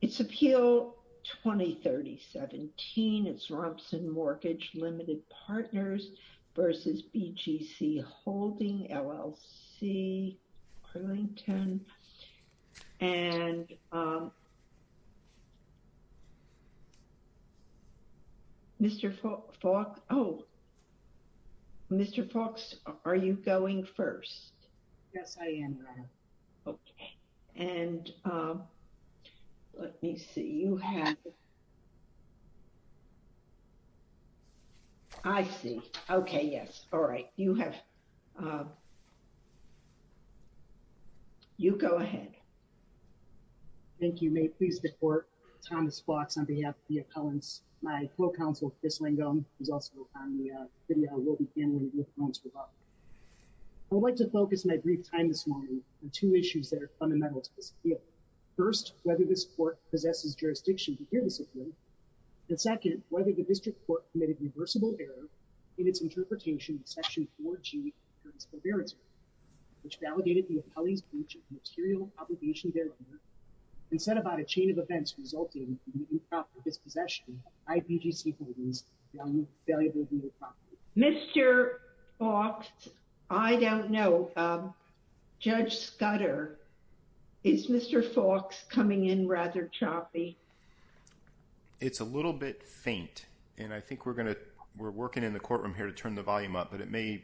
It's appeal 2030-17. It's Rompsen Mortgage Limited Partners v. BGC Holdings, LLC, Arlington. And Mr. Falk, oh, Mr. Falks, are you going first? Yes, I am. Okay. And let me see. You have... I see. Okay, yes. All right. You have... You go ahead. Thank you. May it please the Court, Thomas Falks on behalf of the appellants, my co-counsel, Chris Langone, who's also on the video, will be handling the appellants' rebuttal. I'd like to focus my brief time this morning on two issues that are fundamental to this appeal. First, whether this Court possesses jurisdiction to hear this appeal. And second, whether the District Court committed reversible error in its interpretation of Section 4G of the Concurrence Prohiberity Act, which validated the appellee's breach of material obligation thereunder and set about a chain of events resulting in the new property dispossession by BGC Holdings valuable new property. Mr. Falks, I don't know. Judge Scudder, is Mr. Falks coming in rather choppy? It's a little bit faint, and I think we're going to... We're working in the courtroom here to turn the volume up, but it may...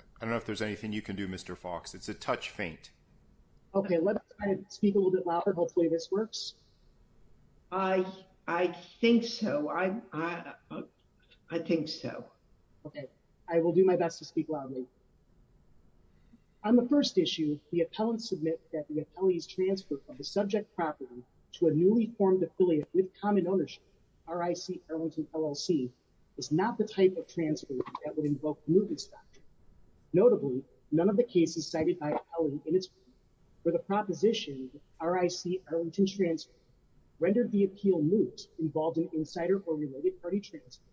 I don't know if there's anything you can do, Mr. Falks. It's a touch faint. Okay, let's try to speak a little bit louder. Hopefully this works. I think so. I think so. Okay, I will do my best to speak loudly. On the first issue, the appellants submit that the appellee's transfer from the subject property to a newly formed affiliate with common ownership, RIC Arlington LLC, is not the type of transfer that would invoke mootness doctrine. Notably, none of the cases cited by the appellant in its brief were the proposition RIC Arlington's transfer rendered the appeal moot, involved an insider or related party transfer,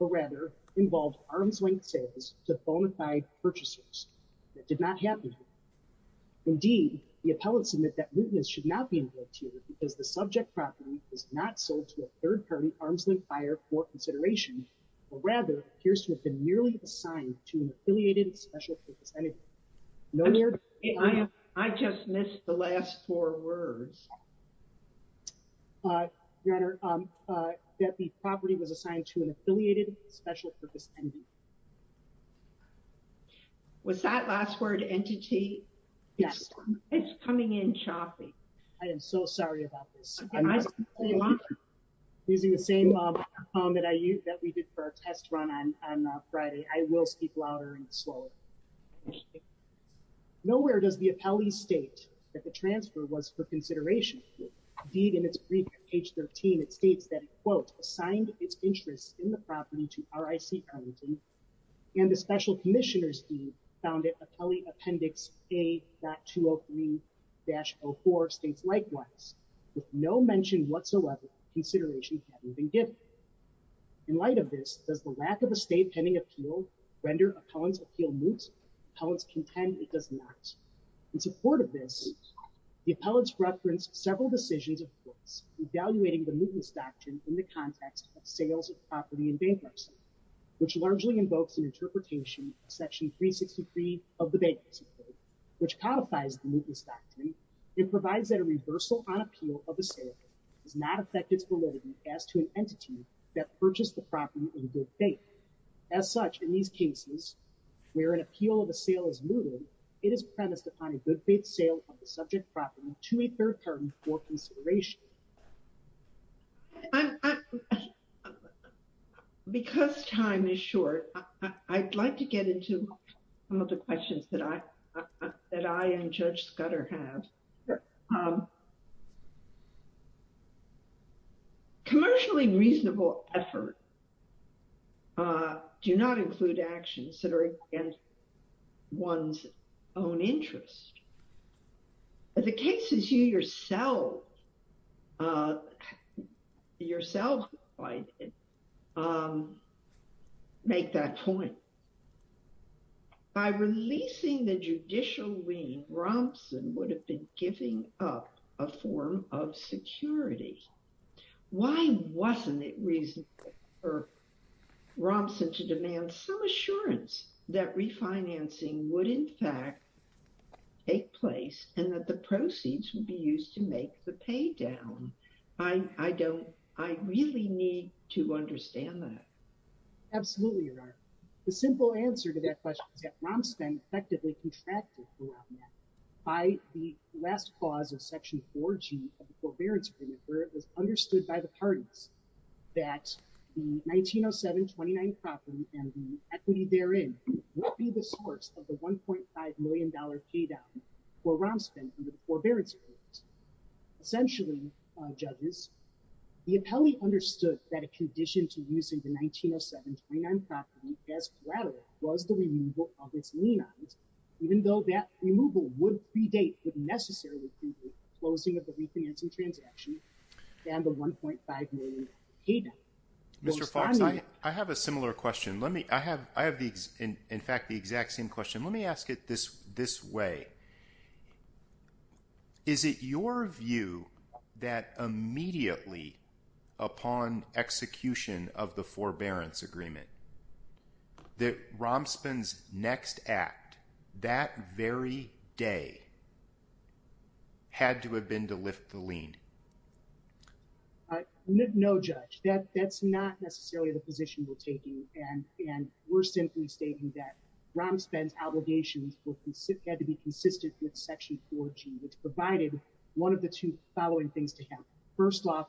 but rather involved arm's length sales to bona fide purchasers. That did not happen. Indeed, the appellants admit that mootness should not be invoked here because the subject property is not sold to a third party arm's length buyer for consideration, but rather appears to have been merely assigned to an affiliated special purpose entity. I just missed the last four words. Your Honor, that the property was assigned to an affiliated special purpose entity. Was that last word entity? Yes. It's coming in choppy. I am so sorry about this. I'm using the same form that we did for our test run on Friday. I will speak louder and slower. Nowhere does the appellee state that the transfer was for consideration. Indeed, in its brief at page 13, it states that it, quote, assigned its interests in the property to RIC Arlington and the special commissioner's deed found it appellee appendix A.203-04 states likewise, with no mention whatsoever of consideration having been given. In light of this, does the lack of a state pending appeal render appellant's appeal moot? Appellants contend it does not. In support of this, the appellants referenced several decisions of courts evaluating the mootness doctrine in the context of sales of property in bankruptcy, which largely invokes an interpretation of section 363 of the bankruptcy code, which codifies the mootness doctrine. It provides that a reversal on appeal of the sale does not affect its validity as to an entity that purchased the property in good faith. As such, in these cases where an appeal of a sale is mooted, it is premised upon a good faith sale of the subject property to a third party for consideration. Because time is short, I'd like to get into some of the questions that I and Judge Scudder have. Commercially reasonable effort do not include actions that are against one's own interest. The cases you yourself, yourself, make that point. By releasing the judicial lien, Romson would have been giving up a form of security. Why wasn't it reasonable for Romson to demand some assurance that refinancing would in fact take place and that the proceeds would be used to make the pay down? I don't, I really need to understand that. Absolutely, Your Honor. The simple answer to that question is that Romson effectively contracted throughout that by the last clause of section 4G of the forbearance agreement, where it was understood by the parties that the 1907-29 property and the equity therein would be the source of the $1.5 million pay down for Romson under the forbearance agreement. Essentially, judges, the appellee understood that a condition to use the 1907-29 property as collateral was the removal of its lien odds, even though that removal would predate the necessary approval, closing of the refinancing transaction, and the $1.5 million pay down. Mr. Fox, I have a similar question. I have in fact the exact same question. Let me ask it this way. Is it your view that immediately upon execution of the forbearance agreement, that Romson's next act, that very day, had to have been to lift the lien? No, Judge. That's not necessarily the position we're taking, and we're simply stating that Romson's obligations had to be consistent with section 4G, which provided one of the two following things to have. First off,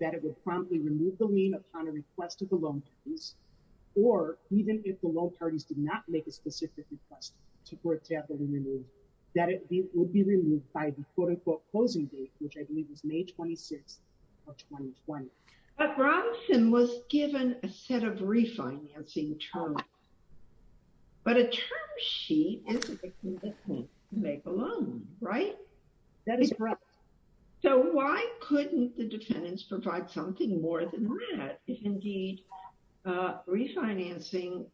that it would promptly remove the lien upon a request of the loan parties, or even if the loan parties did not make a specific request to have the lien removed, that it would be removed by the quote unquote closing date, which I believe was May 26 of 2020. But Romson was given a set of refinancing terms, but a term sheet isn't something that can't make a loan, right? That is correct. So why couldn't the defendants provide something more than that, if indeed refinancing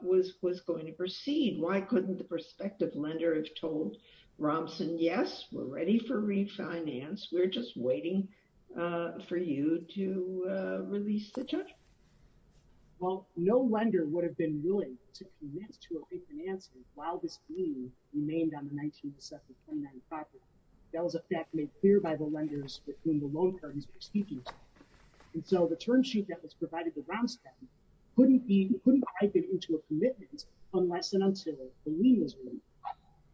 was going to proceed? Why couldn't the prospective lender have told Romson, yes, we're ready for refinance, we're just waiting for you to release the charge? Well, no lender would have been willing to commit to a refinancing while this lien remained on the 19 December 2019 property. That was a fact made clear by the lenders with whom the loan parties were speaking, and so the term sheet that was provided to Romson couldn't be, couldn't type it into a commitment unless and until the lien was removed.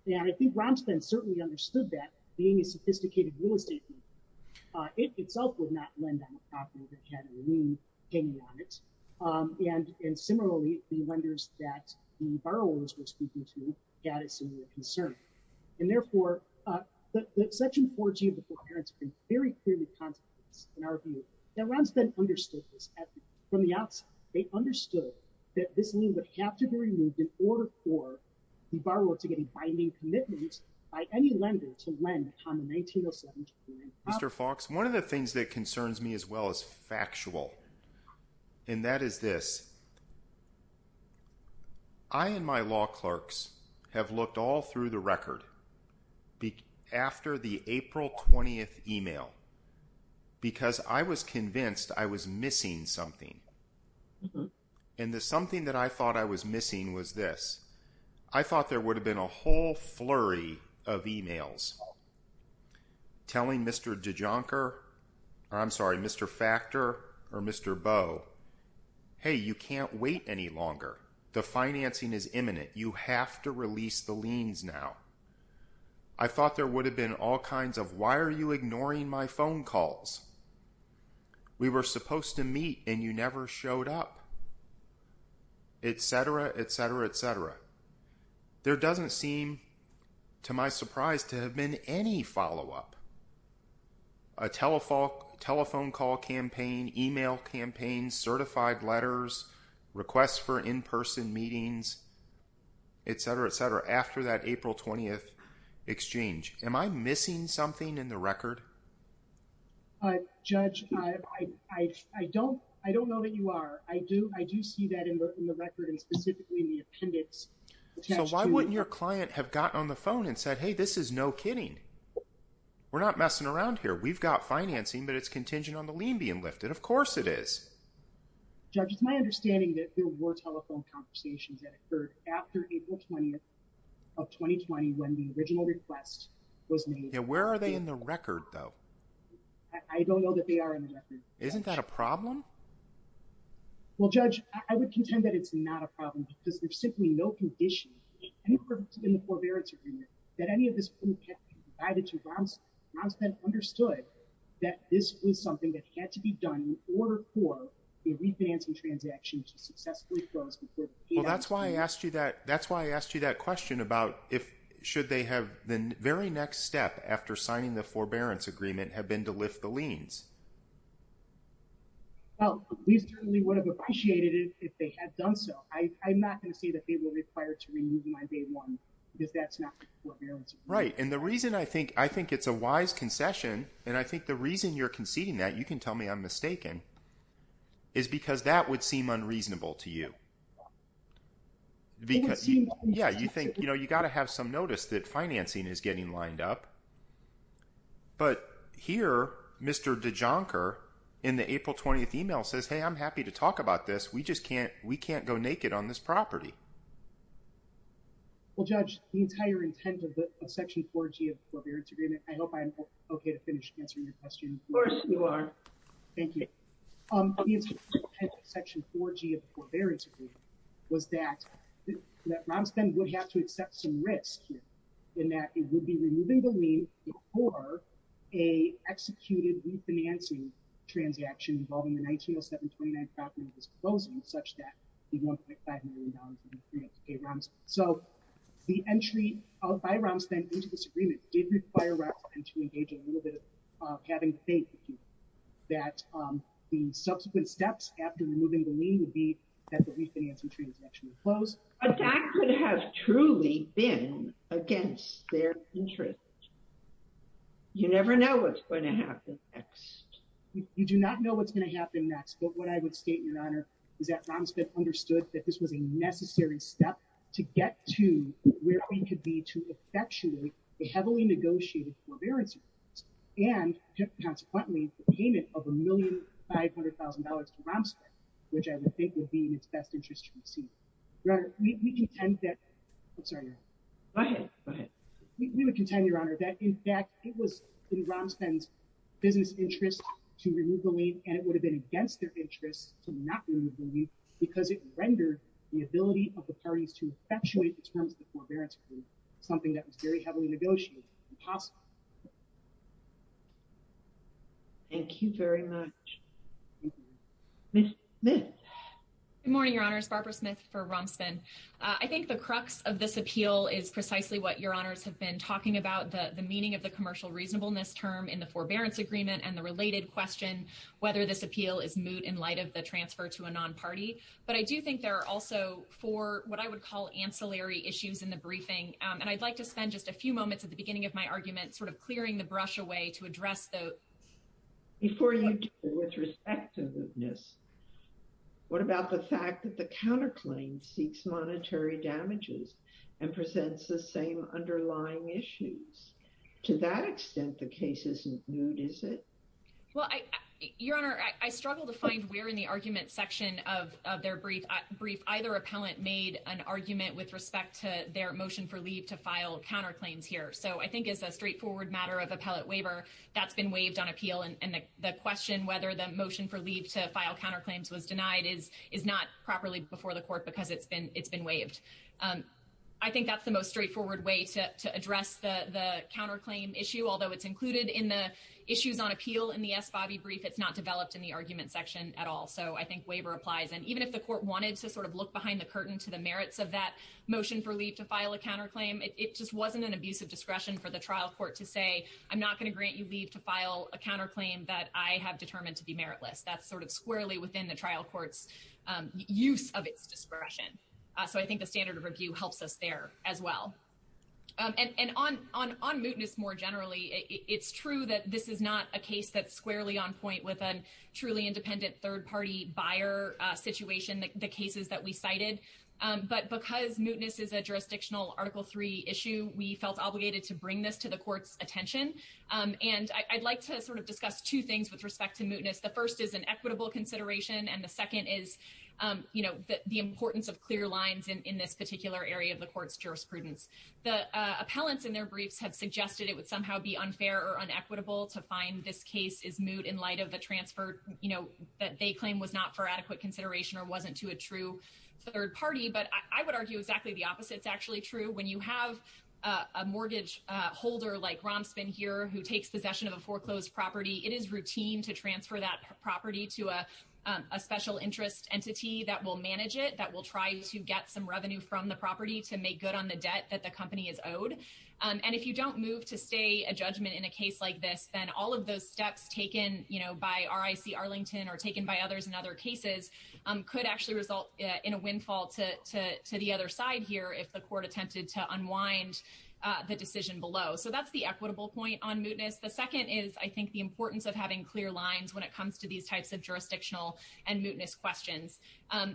And I think Romson certainly understood that, being a sophisticated real estate company, it itself would not lend on a property that had a lien hanging on it. And similarly, the lenders that the borrowers were speaking to had a similar concern. And therefore, that section 14 of the Court of Appearance has been very clearly contextualized in our view. Now Romson understood this from the outside. They understood that this lien would have to be removed in order for the borrower to get a binding commitment by any time in 1907. Mr. Fox, one of the things that concerns me as well as factual, and that is this, I and my law clerks have looked all through the record after the April 20th email, because I was convinced I was missing something. And the something that I thought I was missing was this. I thought there would have been a whole flurry of emails telling Mr. DeJonker, or I'm sorry, Mr. Factor or Mr. Bowe, hey, you can't wait any longer. The financing is imminent. You have to release the liens now. I thought there would have been all kinds of, why are you doing this, et cetera, et cetera. There doesn't seem, to my surprise, to have been any follow-up. A telephone call campaign, email campaign, certified letters, requests for in-person meetings, et cetera, et cetera, after that April 20th exchange. Am I missing something in the record? Judge, I don't know that you are. I do see that in the record and specifically in the appendix. So why wouldn't your client have gotten on the phone and said, hey, this is no kidding. We're not messing around here. We've got financing, but it's contingent on the lien being lifted. Of course it is. Judge, it's my understanding that there were telephone conversations that occurred after April 20th of 2020 when the original request was made. Yeah, where are they in the record, though? I don't know that they are in the record. Isn't that a problem? Well, Judge, I would contend that it's not a problem because there's simply no condition in the forbearance agreement that any of this wouldn't have been provided to Romspen. Romspen understood that this was something that had to be done in order for a refinancing transaction to be made. That's why I asked you that question about should the very next step after signing the forbearance agreement have been to lift the liens? Well, we certainly would have appreciated it if they had done so. I'm not going to say that they were required to remove my day one because that's not the forbearance agreement. Right. And the reason I think it's a wise concession and I think the reason you're conceding that, you can tell me I'm mistaken, is because that would seem unreasonable to you. Yeah, you think, you know, you got to have some notice that financing is getting lined up. But here, Mr. DeJonker in the April 20th email says, hey, I'm happy to talk about this. We just can't. We can't go naked on this property. Well, Judge, the entire intent of the section 4G of the forbearance agreement, I hope I'm okay to finish answering your question. Of course you are. Thank you. The intent of section 4G of the forbearance agreement was that Romsden would have to accept some risk in that it would be removing the lien before a executed refinancing transaction involving the 1907-29 property was closed in such that $1.5 million would be paid. So the entry by Romsden into this agreement did require Romsden to engage a little bit of having faith that the subsequent steps after removing the lien would be that the refinancing transaction would close. But that could have truly been against their interest. You never know what's going to happen next. You do not know what's going to happen next, but what I would state, Your Honor, is that Romsden understood that this was a necessary step to get to where we could be to effectuate a heavily negotiated forbearance agreement, and consequently, the payment of $1,500,000 to Romsden, which I would think would be in its best interest to proceed. Your Honor, we contend that—I'm sorry, Your Honor. Go ahead. Go ahead. We would contend, Your Honor, that in fact, it was in Romsden's business interest to remove the lien, and it would have been against their interest to not remove the lien because it rendered the parties to effectuate the terms of the forbearance agreement something that was very heavily negotiated. It was impossible. Thank you very much. Ms. Smith. Good morning, Your Honors. Barbara Smith for Romsden. I think the crux of this appeal is precisely what Your Honors have been talking about, the meaning of the commercial reasonableness term in the forbearance agreement and the related question whether this appeal is moot in light of the transfer to a non-party, but I do think there are also four what I would call ancillary issues in the briefing, and I'd like to spend just a few moments at the beginning of my argument sort of clearing the brush away to address those. Before you do, with respect to mootness, what about the fact that the counterclaim seeks monetary damages and presents the same underlying issues? To that extent, the case isn't moot, is it? Well, Your Honor, I struggle to find where in the argument section of their brief either appellant made an argument with respect to their motion for leave to file counterclaims here. So, I think as a straightforward matter of appellate waiver, that's been waived on appeal and the question whether the motion for leave to file counterclaims was denied is not properly before the court because it's been waived. I think that's the most straightforward way to address the counterclaim issue, although it's included in the issues on appeal in the S. Bobby brief, it's not developed in the argument section at all. So, I think waiver applies. And even if the court wanted to sort of look behind the curtain to the merits of that motion for leave to file a counterclaim, it just wasn't an abusive discretion for the trial court to say, I'm not going to grant you leave to file a counterclaim that I have determined to be meritless. That's sort of squarely within the trial court's use of its discretion. So, I think the standard of review helps us there as well. And on mootness more generally, it's true that this is not a case that's squarely on point with a truly independent third party buyer situation, the cases that we cited. But because mootness is a jurisdictional article three issue, we felt obligated to bring this to the court's attention. And I'd like to sort of discuss two things with respect to mootness. The first is an equitable consideration and the second is you know, the importance of clear lines in this particular area of the court's jurisprudence. The appellants in their briefs have suggested it would somehow be unfair or unequitable to find this case is moot in light of the transfer, you know, that they claim was not for adequate consideration or wasn't to a true third party. But I would argue exactly the opposite is actually true. When you have a mortgage holder like Romspen here who takes possession of a foreclosed property, it is routine to transfer that property to a special interest entity that will manage it, that will try to get some revenue from the property to make good on the debt that the company is owed. And if you don't move to stay a judgment in a case like this, then all of those steps taken, you know, by RIC Arlington or taken by others in other cases, could actually result in a windfall to the other side here if the court attempted to unwind the decision below. So that's equitable point on mootness. The second is I think the importance of having clear lines when it comes to these types of jurisdictional and mootness questions.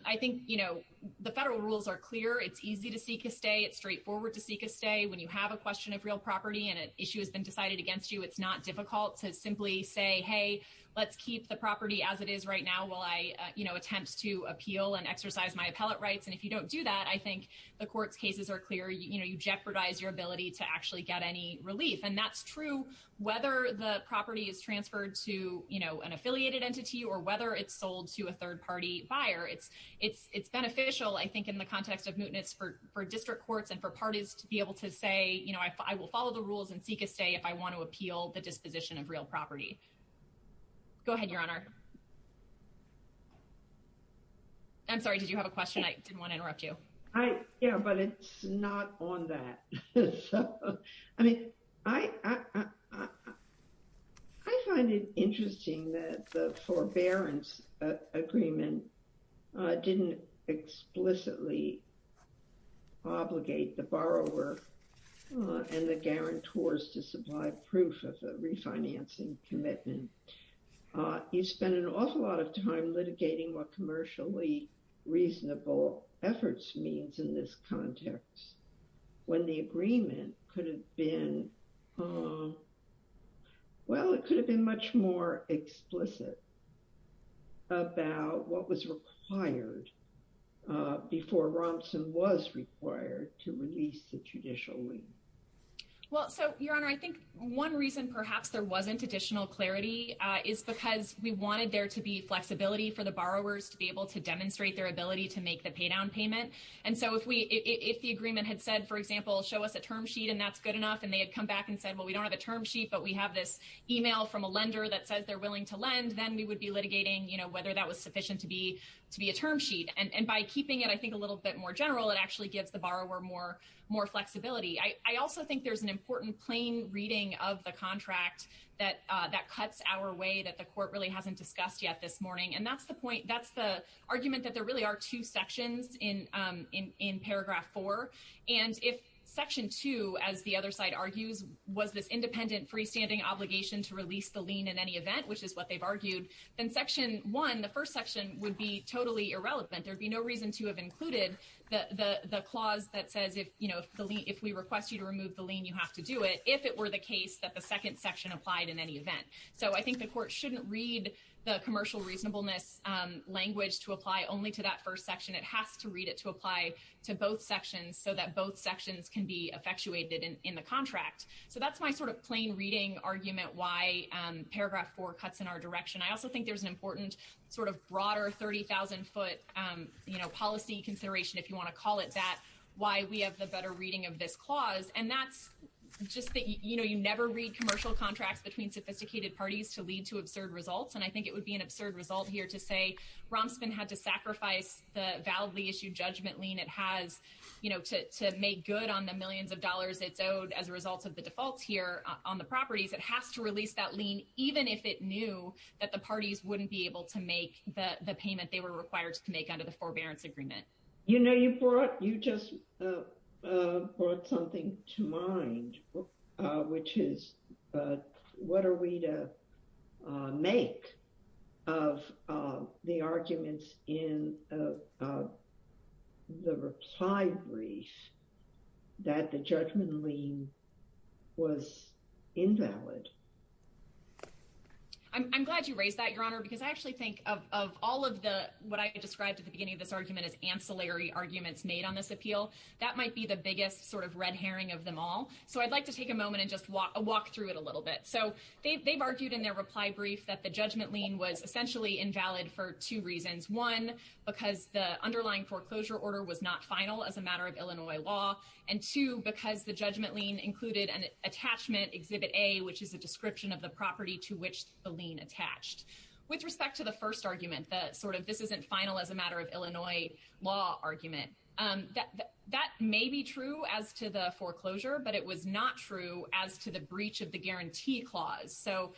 I think, you know, the federal rules are clear. It's easy to seek a stay. It's straightforward to seek a stay. When you have a question of real property and an issue has been decided against you, it's not difficult to simply say, hey, let's keep the property as it is right now while I, you know, attempt to appeal and exercise my appellate rights. And if you don't do that, I think the court's cases are clear. You know, and that's true whether the property is transferred to, you know, an affiliated entity or whether it's sold to a third party buyer. It's beneficial, I think, in the context of mootness for district courts and for parties to be able to say, you know, I will follow the rules and seek a stay if I want to appeal the disposition of real property. Go ahead, Your Honor. I'm sorry, did you have a question? I didn't want to interrupt you. I, yeah, but it's not on that. I mean, I find it interesting that the Forbearance Agreement didn't explicitly obligate the borrower and the guarantors to supply proof of the refinancing commitment. You spend an awful lot of time litigating what commercially reasonable efforts means in this context when the agreement could have been, well, it could have been much more explicit about what was required before Romson was required to release the judicial lien. Well, so, Your Honor, I think one reason perhaps there wasn't additional clarity is because we wanted there to be flexibility for the borrowers to be able to demonstrate their ability to make the paydown payment. And so, if the agreement had said, for example, show us a term sheet and that's good enough, and they had come back and said, well, we don't have a term sheet, but we have this email from a lender that says they're willing to lend, then we would be litigating, you know, whether that was sufficient to be a term sheet. And by keeping it, I think, a little bit more general, it actually gives the borrower more flexibility. I also think there's an important plain reading of the contract that cuts our way that the court really hasn't discussed yet this morning. And that's the point, that's the argument that there really are two sections in paragraph four. And if section two, as the other side argues, was this independent freestanding obligation to release the lien in any event, which is what they've argued, then section one, the first section, would be totally irrelevant. There'd be no reason to have included the clause that says, you know, if we request you to remove the lien, you have to do it, if it were the case that the second section applied in any event. So, I think the court shouldn't read the commercial reasonableness language to apply only to that first section. It has to read it to apply to both sections so that both sections can be effectuated in the contract. So, that's my sort of plain reading argument why paragraph four cuts in our direction. I also think there's an important sort of broader 30,000-foot, you know, policy consideration, if you want to call it that, why we have the better reading of this clause. And that's just that, you know, you never read commercial contracts between sophisticated parties to lead to absurd results. And I think it would be an absurd result here to say Romspan had to sacrifice the validly issued judgment lien it has, you know, to make good on the millions of dollars it's owed as a result of the defaults here on the properties. It has to release that lien, even if it knew that the parties wouldn't be able to make the payment they were required to make under the forbearance agreement. You know, you brought, you just brought something to mind, which is what are we to make of the arguments in the reply brief that the judgment lien was invalid? I'm glad you raised that, Your Honor, because I actually think of all of the, what I described at the beginning of this argument as ancillary arguments made on this appeal. That might be the biggest sort of red herring of them all. So I'd like to take a moment and just walk through it a little bit. So they've argued in their reply brief that the judgment lien was essentially invalid for two reasons. One, because the underlying foreclosure order was not final as a matter of Illinois law. And two, because the judgment lien included an attachment, exhibit A, which is a description of the property to which the lien attached. With respect to the first Illinois law argument, that may be true as to the foreclosure, but it was not true as to the breach of the guarantee clause. So,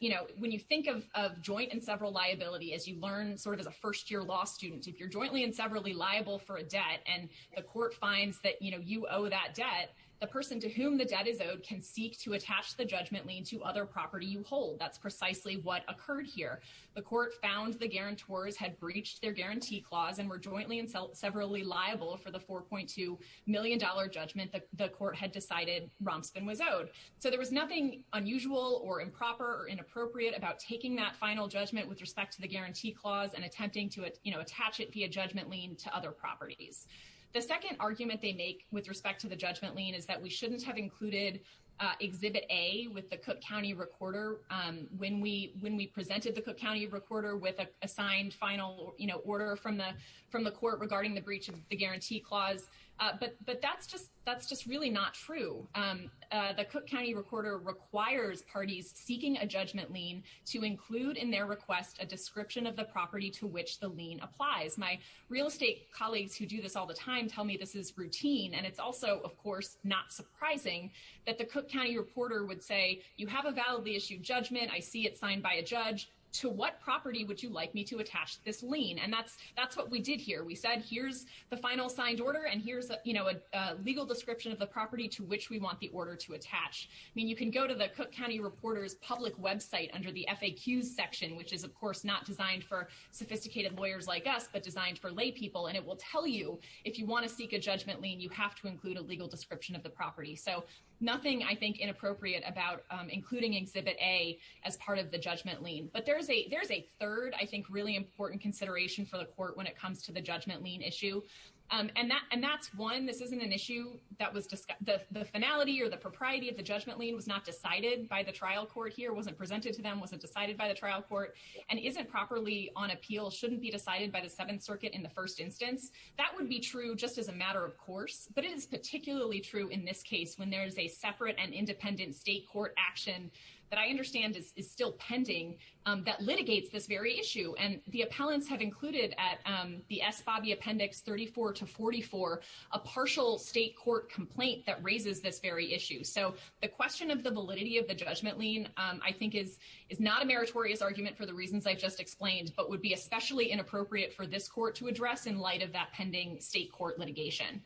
you know, when you think of joint and several liability, as you learn sort of as a first-year law student, if you're jointly and severally liable for a debt, and the court finds that, you know, you owe that debt, the person to whom the debt is owed can seek to attach the judgment lien to other property you hold. That's precisely what occurred here. The court found the guarantors had breached their guarantee clause and were jointly and severally liable for the $4.2 million judgment that the court had decided Romspen was owed. So there was nothing unusual or improper or inappropriate about taking that final judgment with respect to the guarantee clause and attempting to, you know, attach it via judgment lien to other properties. The second argument they make with respect to the judgment lien is that we shouldn't have included exhibit A with the Cook County recorder when we presented the recorder with a signed final, you know, order from the court regarding the breach of the guarantee clause. But that's just really not true. The Cook County recorder requires parties seeking a judgment lien to include in their request a description of the property to which the lien applies. My real estate colleagues who do this all the time tell me this is routine, and it's also, of course, not surprising that the Cook County reporter would say, you have a validly issued judgment. I see it signed by a judge. To what property would you like me to attach this lien? And that's what we did here. We said, here's the final signed order, and here's, you know, a legal description of the property to which we want the order to attach. I mean, you can go to the Cook County reporter's public website under the FAQ section, which is, of course, not designed for sophisticated lawyers like us, but designed for laypeople, and it will tell you if you want to seek a judgment lien, you have to include a legal description of the property to which you want to attach a judgment lien. But there's a third, I think, really important consideration for the court when it comes to the judgment lien issue, and that's one, this isn't an issue that was, the finality or the propriety of the judgment lien was not decided by the trial court here, wasn't presented to them, wasn't decided by the trial court, and isn't properly on appeal, shouldn't be decided by the Seventh Circuit in the first instance. That would be true just as a matter of course, but it is particularly true in this case when there's a separate and independent state court action that I understand is still pending that litigates this very issue. And the appellants have included at the SBOBI Appendix 34 to 44, a partial state court complaint that raises this very issue. So the question of the validity of the judgment lien, I think, is not a meritorious argument for the reasons I've just explained, but would be especially inappropriate for this court to address in light of that pending state court litigation.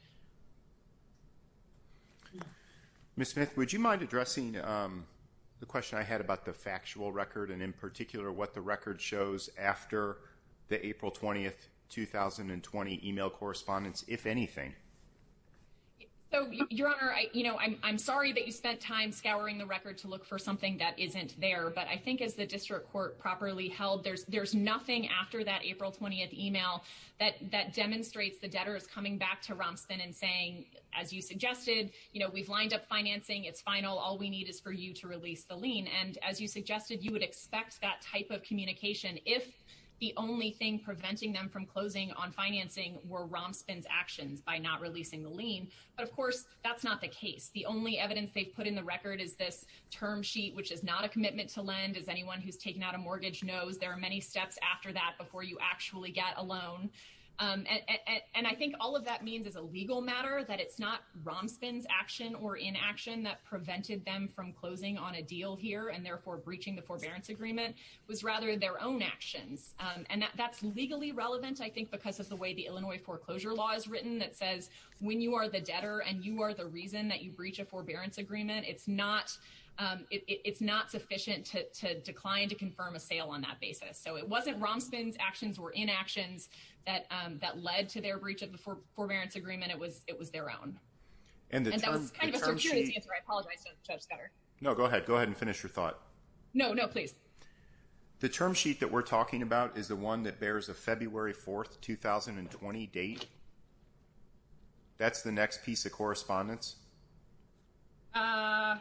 Ms. Smith, would you mind addressing the question I had about the factual record, and in particular, what the record shows after the April 20, 2020 email correspondence, if anything? So, Your Honor, I'm sorry that you spent time scouring the record to look for something that isn't there, but I think as the district court properly held, there's nothing after that April 20 email that demonstrates the debtors coming back to Romspen and saying, as you suggested, you know, we've lined up financing, it's final, all we need is for you to release the lien. And as you suggested, you would expect that type of communication if the only thing preventing them from closing on financing were Romspen's actions by not releasing the lien. But of course, that's not the case. The only evidence they've put in the record is this term sheet, which is not a commitment to lend. As anyone who's taken out a mortgage knows, there are many steps after that before you actually get a loan. And I think all of that means as a legal matter that it's not Romspen's action or inaction that prevented them from closing on a deal here, and therefore breaching the forbearance agreement, it was rather their own actions. And that's legally relevant, I think, because of the way the Illinois foreclosure law is written that says when you are the debtor and you are the reason that you breach a forbearance agreement, it's not sufficient to decline to confirm a sale on that basis. So it wasn't Romspen's actions or inactions that led to their breach of the forbearance agreement, it was their own. And that was kind of a circuitous answer, I apologize, Judge Scudder. No, go ahead. Go ahead and finish your thought. No, no, please. The term sheet that we're talking about is the one that bears a February 4th, 2020 date. That's the next piece of correspondence? I'm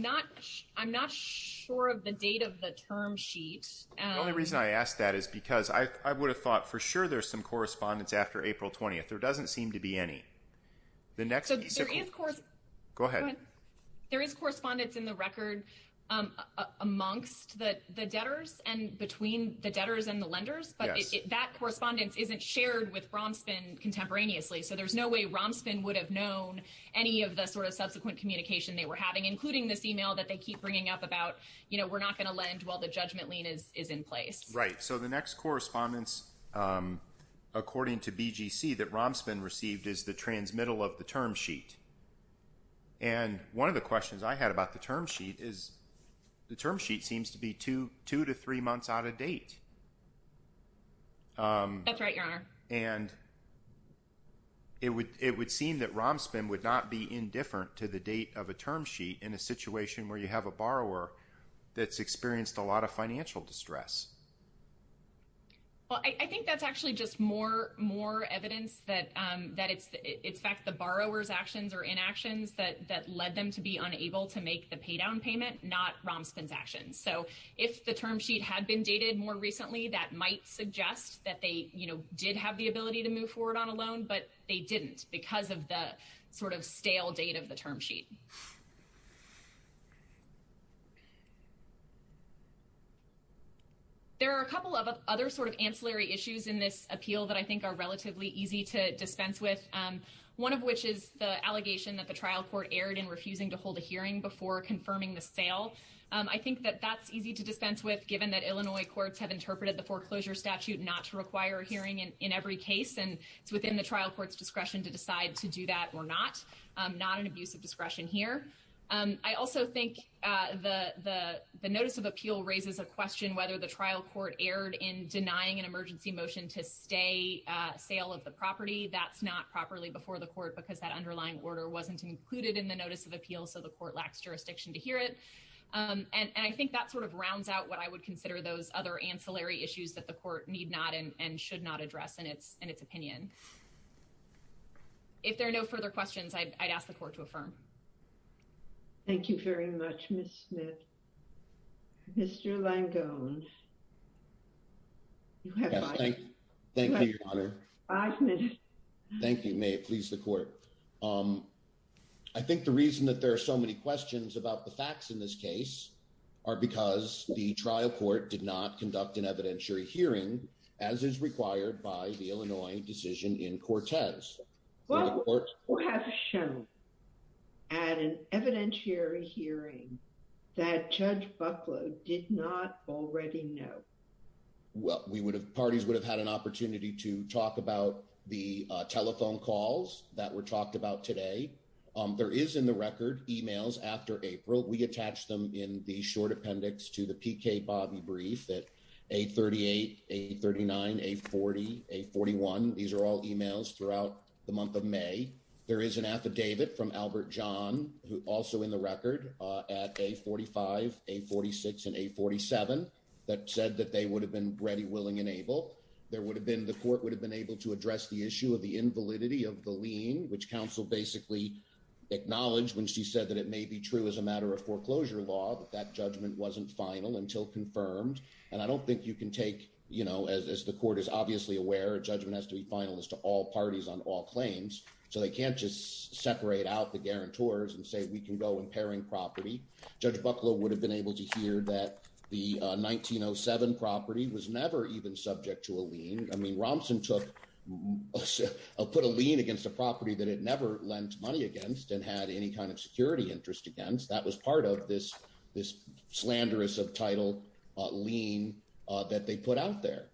not sure of the date of the term sheet. The only reason I asked that is because I would have thought for sure there's some correspondence after April 20th. There doesn't seem to be any. So there is correspondence in the record amongst the debtors and between the debtors and the lenders, but that correspondence isn't shared with Romspen, contemporaneously. So there's no way Romspen would have known any of the sort of subsequent communication they were having, including this email that they keep bringing up about, you know, we're not going to lend while the judgment lien is in place. Right. So the next correspondence, according to BGC, that Romspen received is the transmittal of the term sheet. And one of the questions I had about the term sheet is the term sheet seems to be two to three months out of date. That's right, Your Honor. And it would seem that Romspen would not be indifferent to the date of a term sheet in a situation where you have a borrower that's experienced a lot of financial distress. Well, I think that's actually just more evidence that it's in fact the borrower's actions or inactions that led them to be unable to make the pay down payment, not Romspen's actions. So if the term sheet had been dated more recently, that might suggest that they, you know, did have the ability to move forward on a loan, but they didn't because of the sort of stale date of the term sheet. There are a couple of other sort of ancillary issues in this appeal that I think are relatively easy to dispense with, one of which is the allegation that the trial court erred in refusing to hold a hearing before confirming the sale. I think that that's easy to dispense with, given that Illinois courts have interpreted the foreclosure statute not to require a hearing in every case, and it's within the trial court's discretion to decide to do that or not. Not an abuse of discretion here. I also think the notice of appeal raises a question whether the trial court erred in denying an emergency motion to stay sale of the property. That's not properly before the court because that underlying order wasn't included in the notice of appeal, so the court lacks jurisdiction to hear it. And I think that sort of rounds out what I would those other ancillary issues that the court need not and should not address in its opinion. If there are no further questions, I'd ask the court to affirm. Thank you very much, Ms. Smith. Mr. Langone, you have five minutes. Thank you, may it please the court. I think the reason that there are so many questions about the facts in this case are because the trial court did not conduct an evidentiary hearing, as is required by the Illinois decision in Cortez. What would have shown at an evidentiary hearing that Judge Bucklow did not already know? Well, we would have parties would have had an opportunity to talk about the telephone calls that were talked about today. There is in the record emails after April, we attach them in the short appendix to the PK Bobby brief that a 38, a 39, a 40, a 41. These are all emails throughout the month of May. There is an affidavit from Albert John, who also in the record at a 45, a 46 and a 47 that said that they would have been ready, willing and able. There would have been the court would have been able to acknowledge when she said that it may be true as a matter of foreclosure law that that judgment wasn't final until confirmed. And I don't think you can take, you know, as the court is obviously aware, judgment has to be final as to all parties on all claims. So they can't just separate out the guarantors and say we can go in pairing property. Judge Bucklow would have been able to hear that the 1907 property was never even subject to a lien. I mean, Romson took a put a lien against a property that it never lent money against and had any kind of security interest against. That was part of this, this slanderous of title lien that they put out there.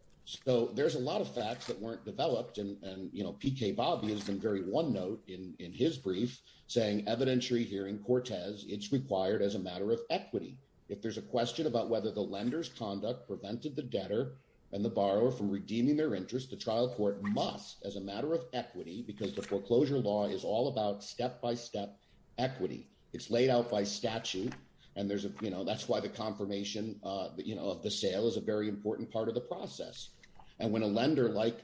So there's a lot of facts that weren't developed. And, and, you know, PK Bobby has been very one note in, in his brief saying evidentiary hearing Cortez, it's required as a matter of equity. If there's a question about whether the lender's conduct prevented the debtor and the borrower from redeeming their interest, the trial court must as a matter of equity, because the foreclosure law is all about step-by-step equity. It's laid out by statute and there's a, you know, that's why the confirmation of the sale is a very important part of the process. And when a lender like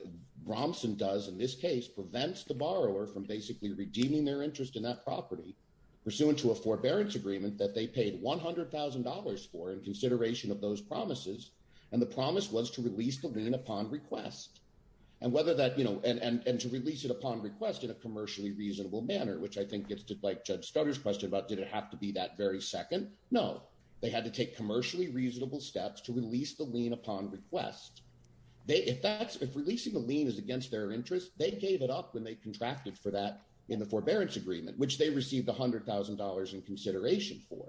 Romson does in this case prevents the borrower from basically redeeming their interest in that property pursuant to a forbearance agreement that they paid $100,000 for in consideration of those requests. And whether that, you know, and, and, and to release it upon request in a commercially reasonable manner, which I think gets to like judge Stoddard's question about, did it have to be that very second? No, they had to take commercially reasonable steps to release the lien upon request. They, if that's, if releasing the lien is against their interest, they gave it up when they contracted for that in the forbearance agreement, which they received a hundred thousand dollars in consideration for.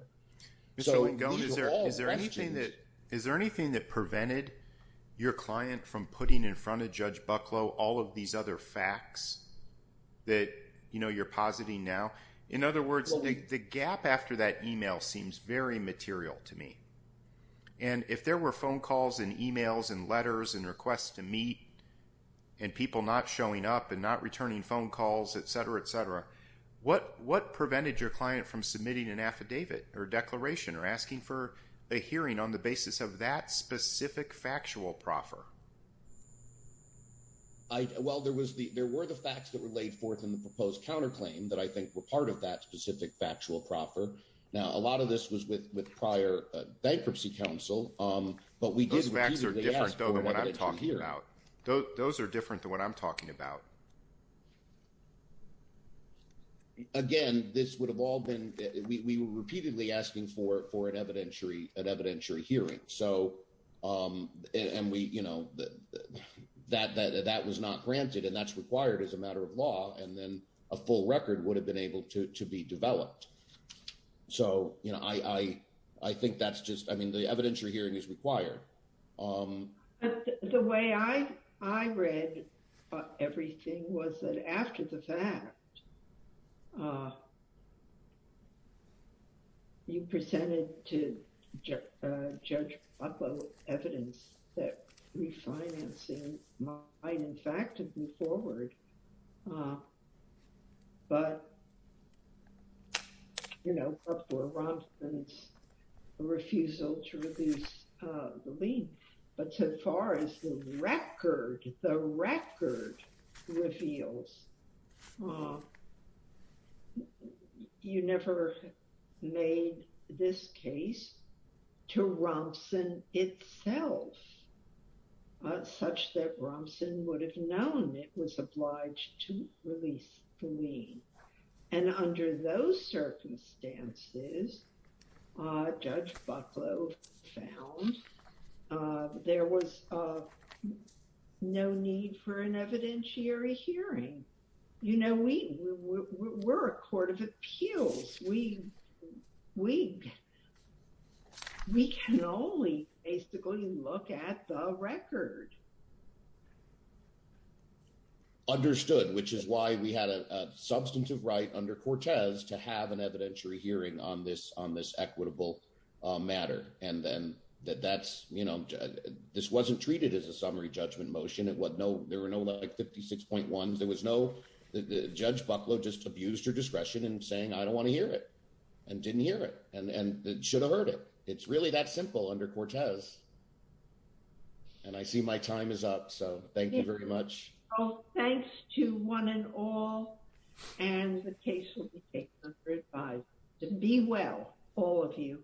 So is there anything that, is there anything that prevented your client from putting in front of judge Bucklow, all of these other facts that, you know, you're positing now? In other words, the gap after that email seems very material to me. And if there were phone calls and emails and letters and requests to meet and people not showing up and not returning phone calls, et cetera, et cetera, what, what prevented your client from submitting an affidavit or declaration or asking for a hearing on the basis of that specific factual proffer? I, well, there was the, there were the facts that were laid forth in the proposed counterclaim that I think were part of that specific factual proffer. Now, a lot of this was with, with prior bankruptcy counsel. But we did. Those are different than what I'm talking about. Again, this would have all been, we were repeatedly asking for, for an evidentiary, an evidentiary hearing. So, and we, you know, that, that, that was not granted and that's required as a matter of law. And then a full record would have been able to, to be developed. So, you know, I, I, I think that's just, I mean, the evidentiary hearing is required. The way I, I read everything was that after the fact, you presented to Judge Butler evidence that refinancing might in fact move forward. But, you know, before Robinson's refusal to reduce the lien, but so far as the record, the record reveals, you never made this case to Robinson itself, such that Robinson would have known it was obliged to release the lien. And under those circumstances, Judge Bucklow found there was no need for an evidentiary hearing. You know, we, we're a court of appeals. We, we, we can only basically look at the record. Understood, which is why we had a substantive right under Cortez to have an evidentiary hearing on this, on this equitable matter. And then that that's, you know, this wasn't treated as a summary judgment motion. It was no, there were no like 56.1. There was no, Judge Bucklow just abused her discretion in saying, I don't want to hear it and didn't hear it. And, and that should have heard it. It's really that simple under Cortez. And I see my time is up. So thank you very much. Thanks to one and all, and the case will be taken under advisory. Be well, all of you.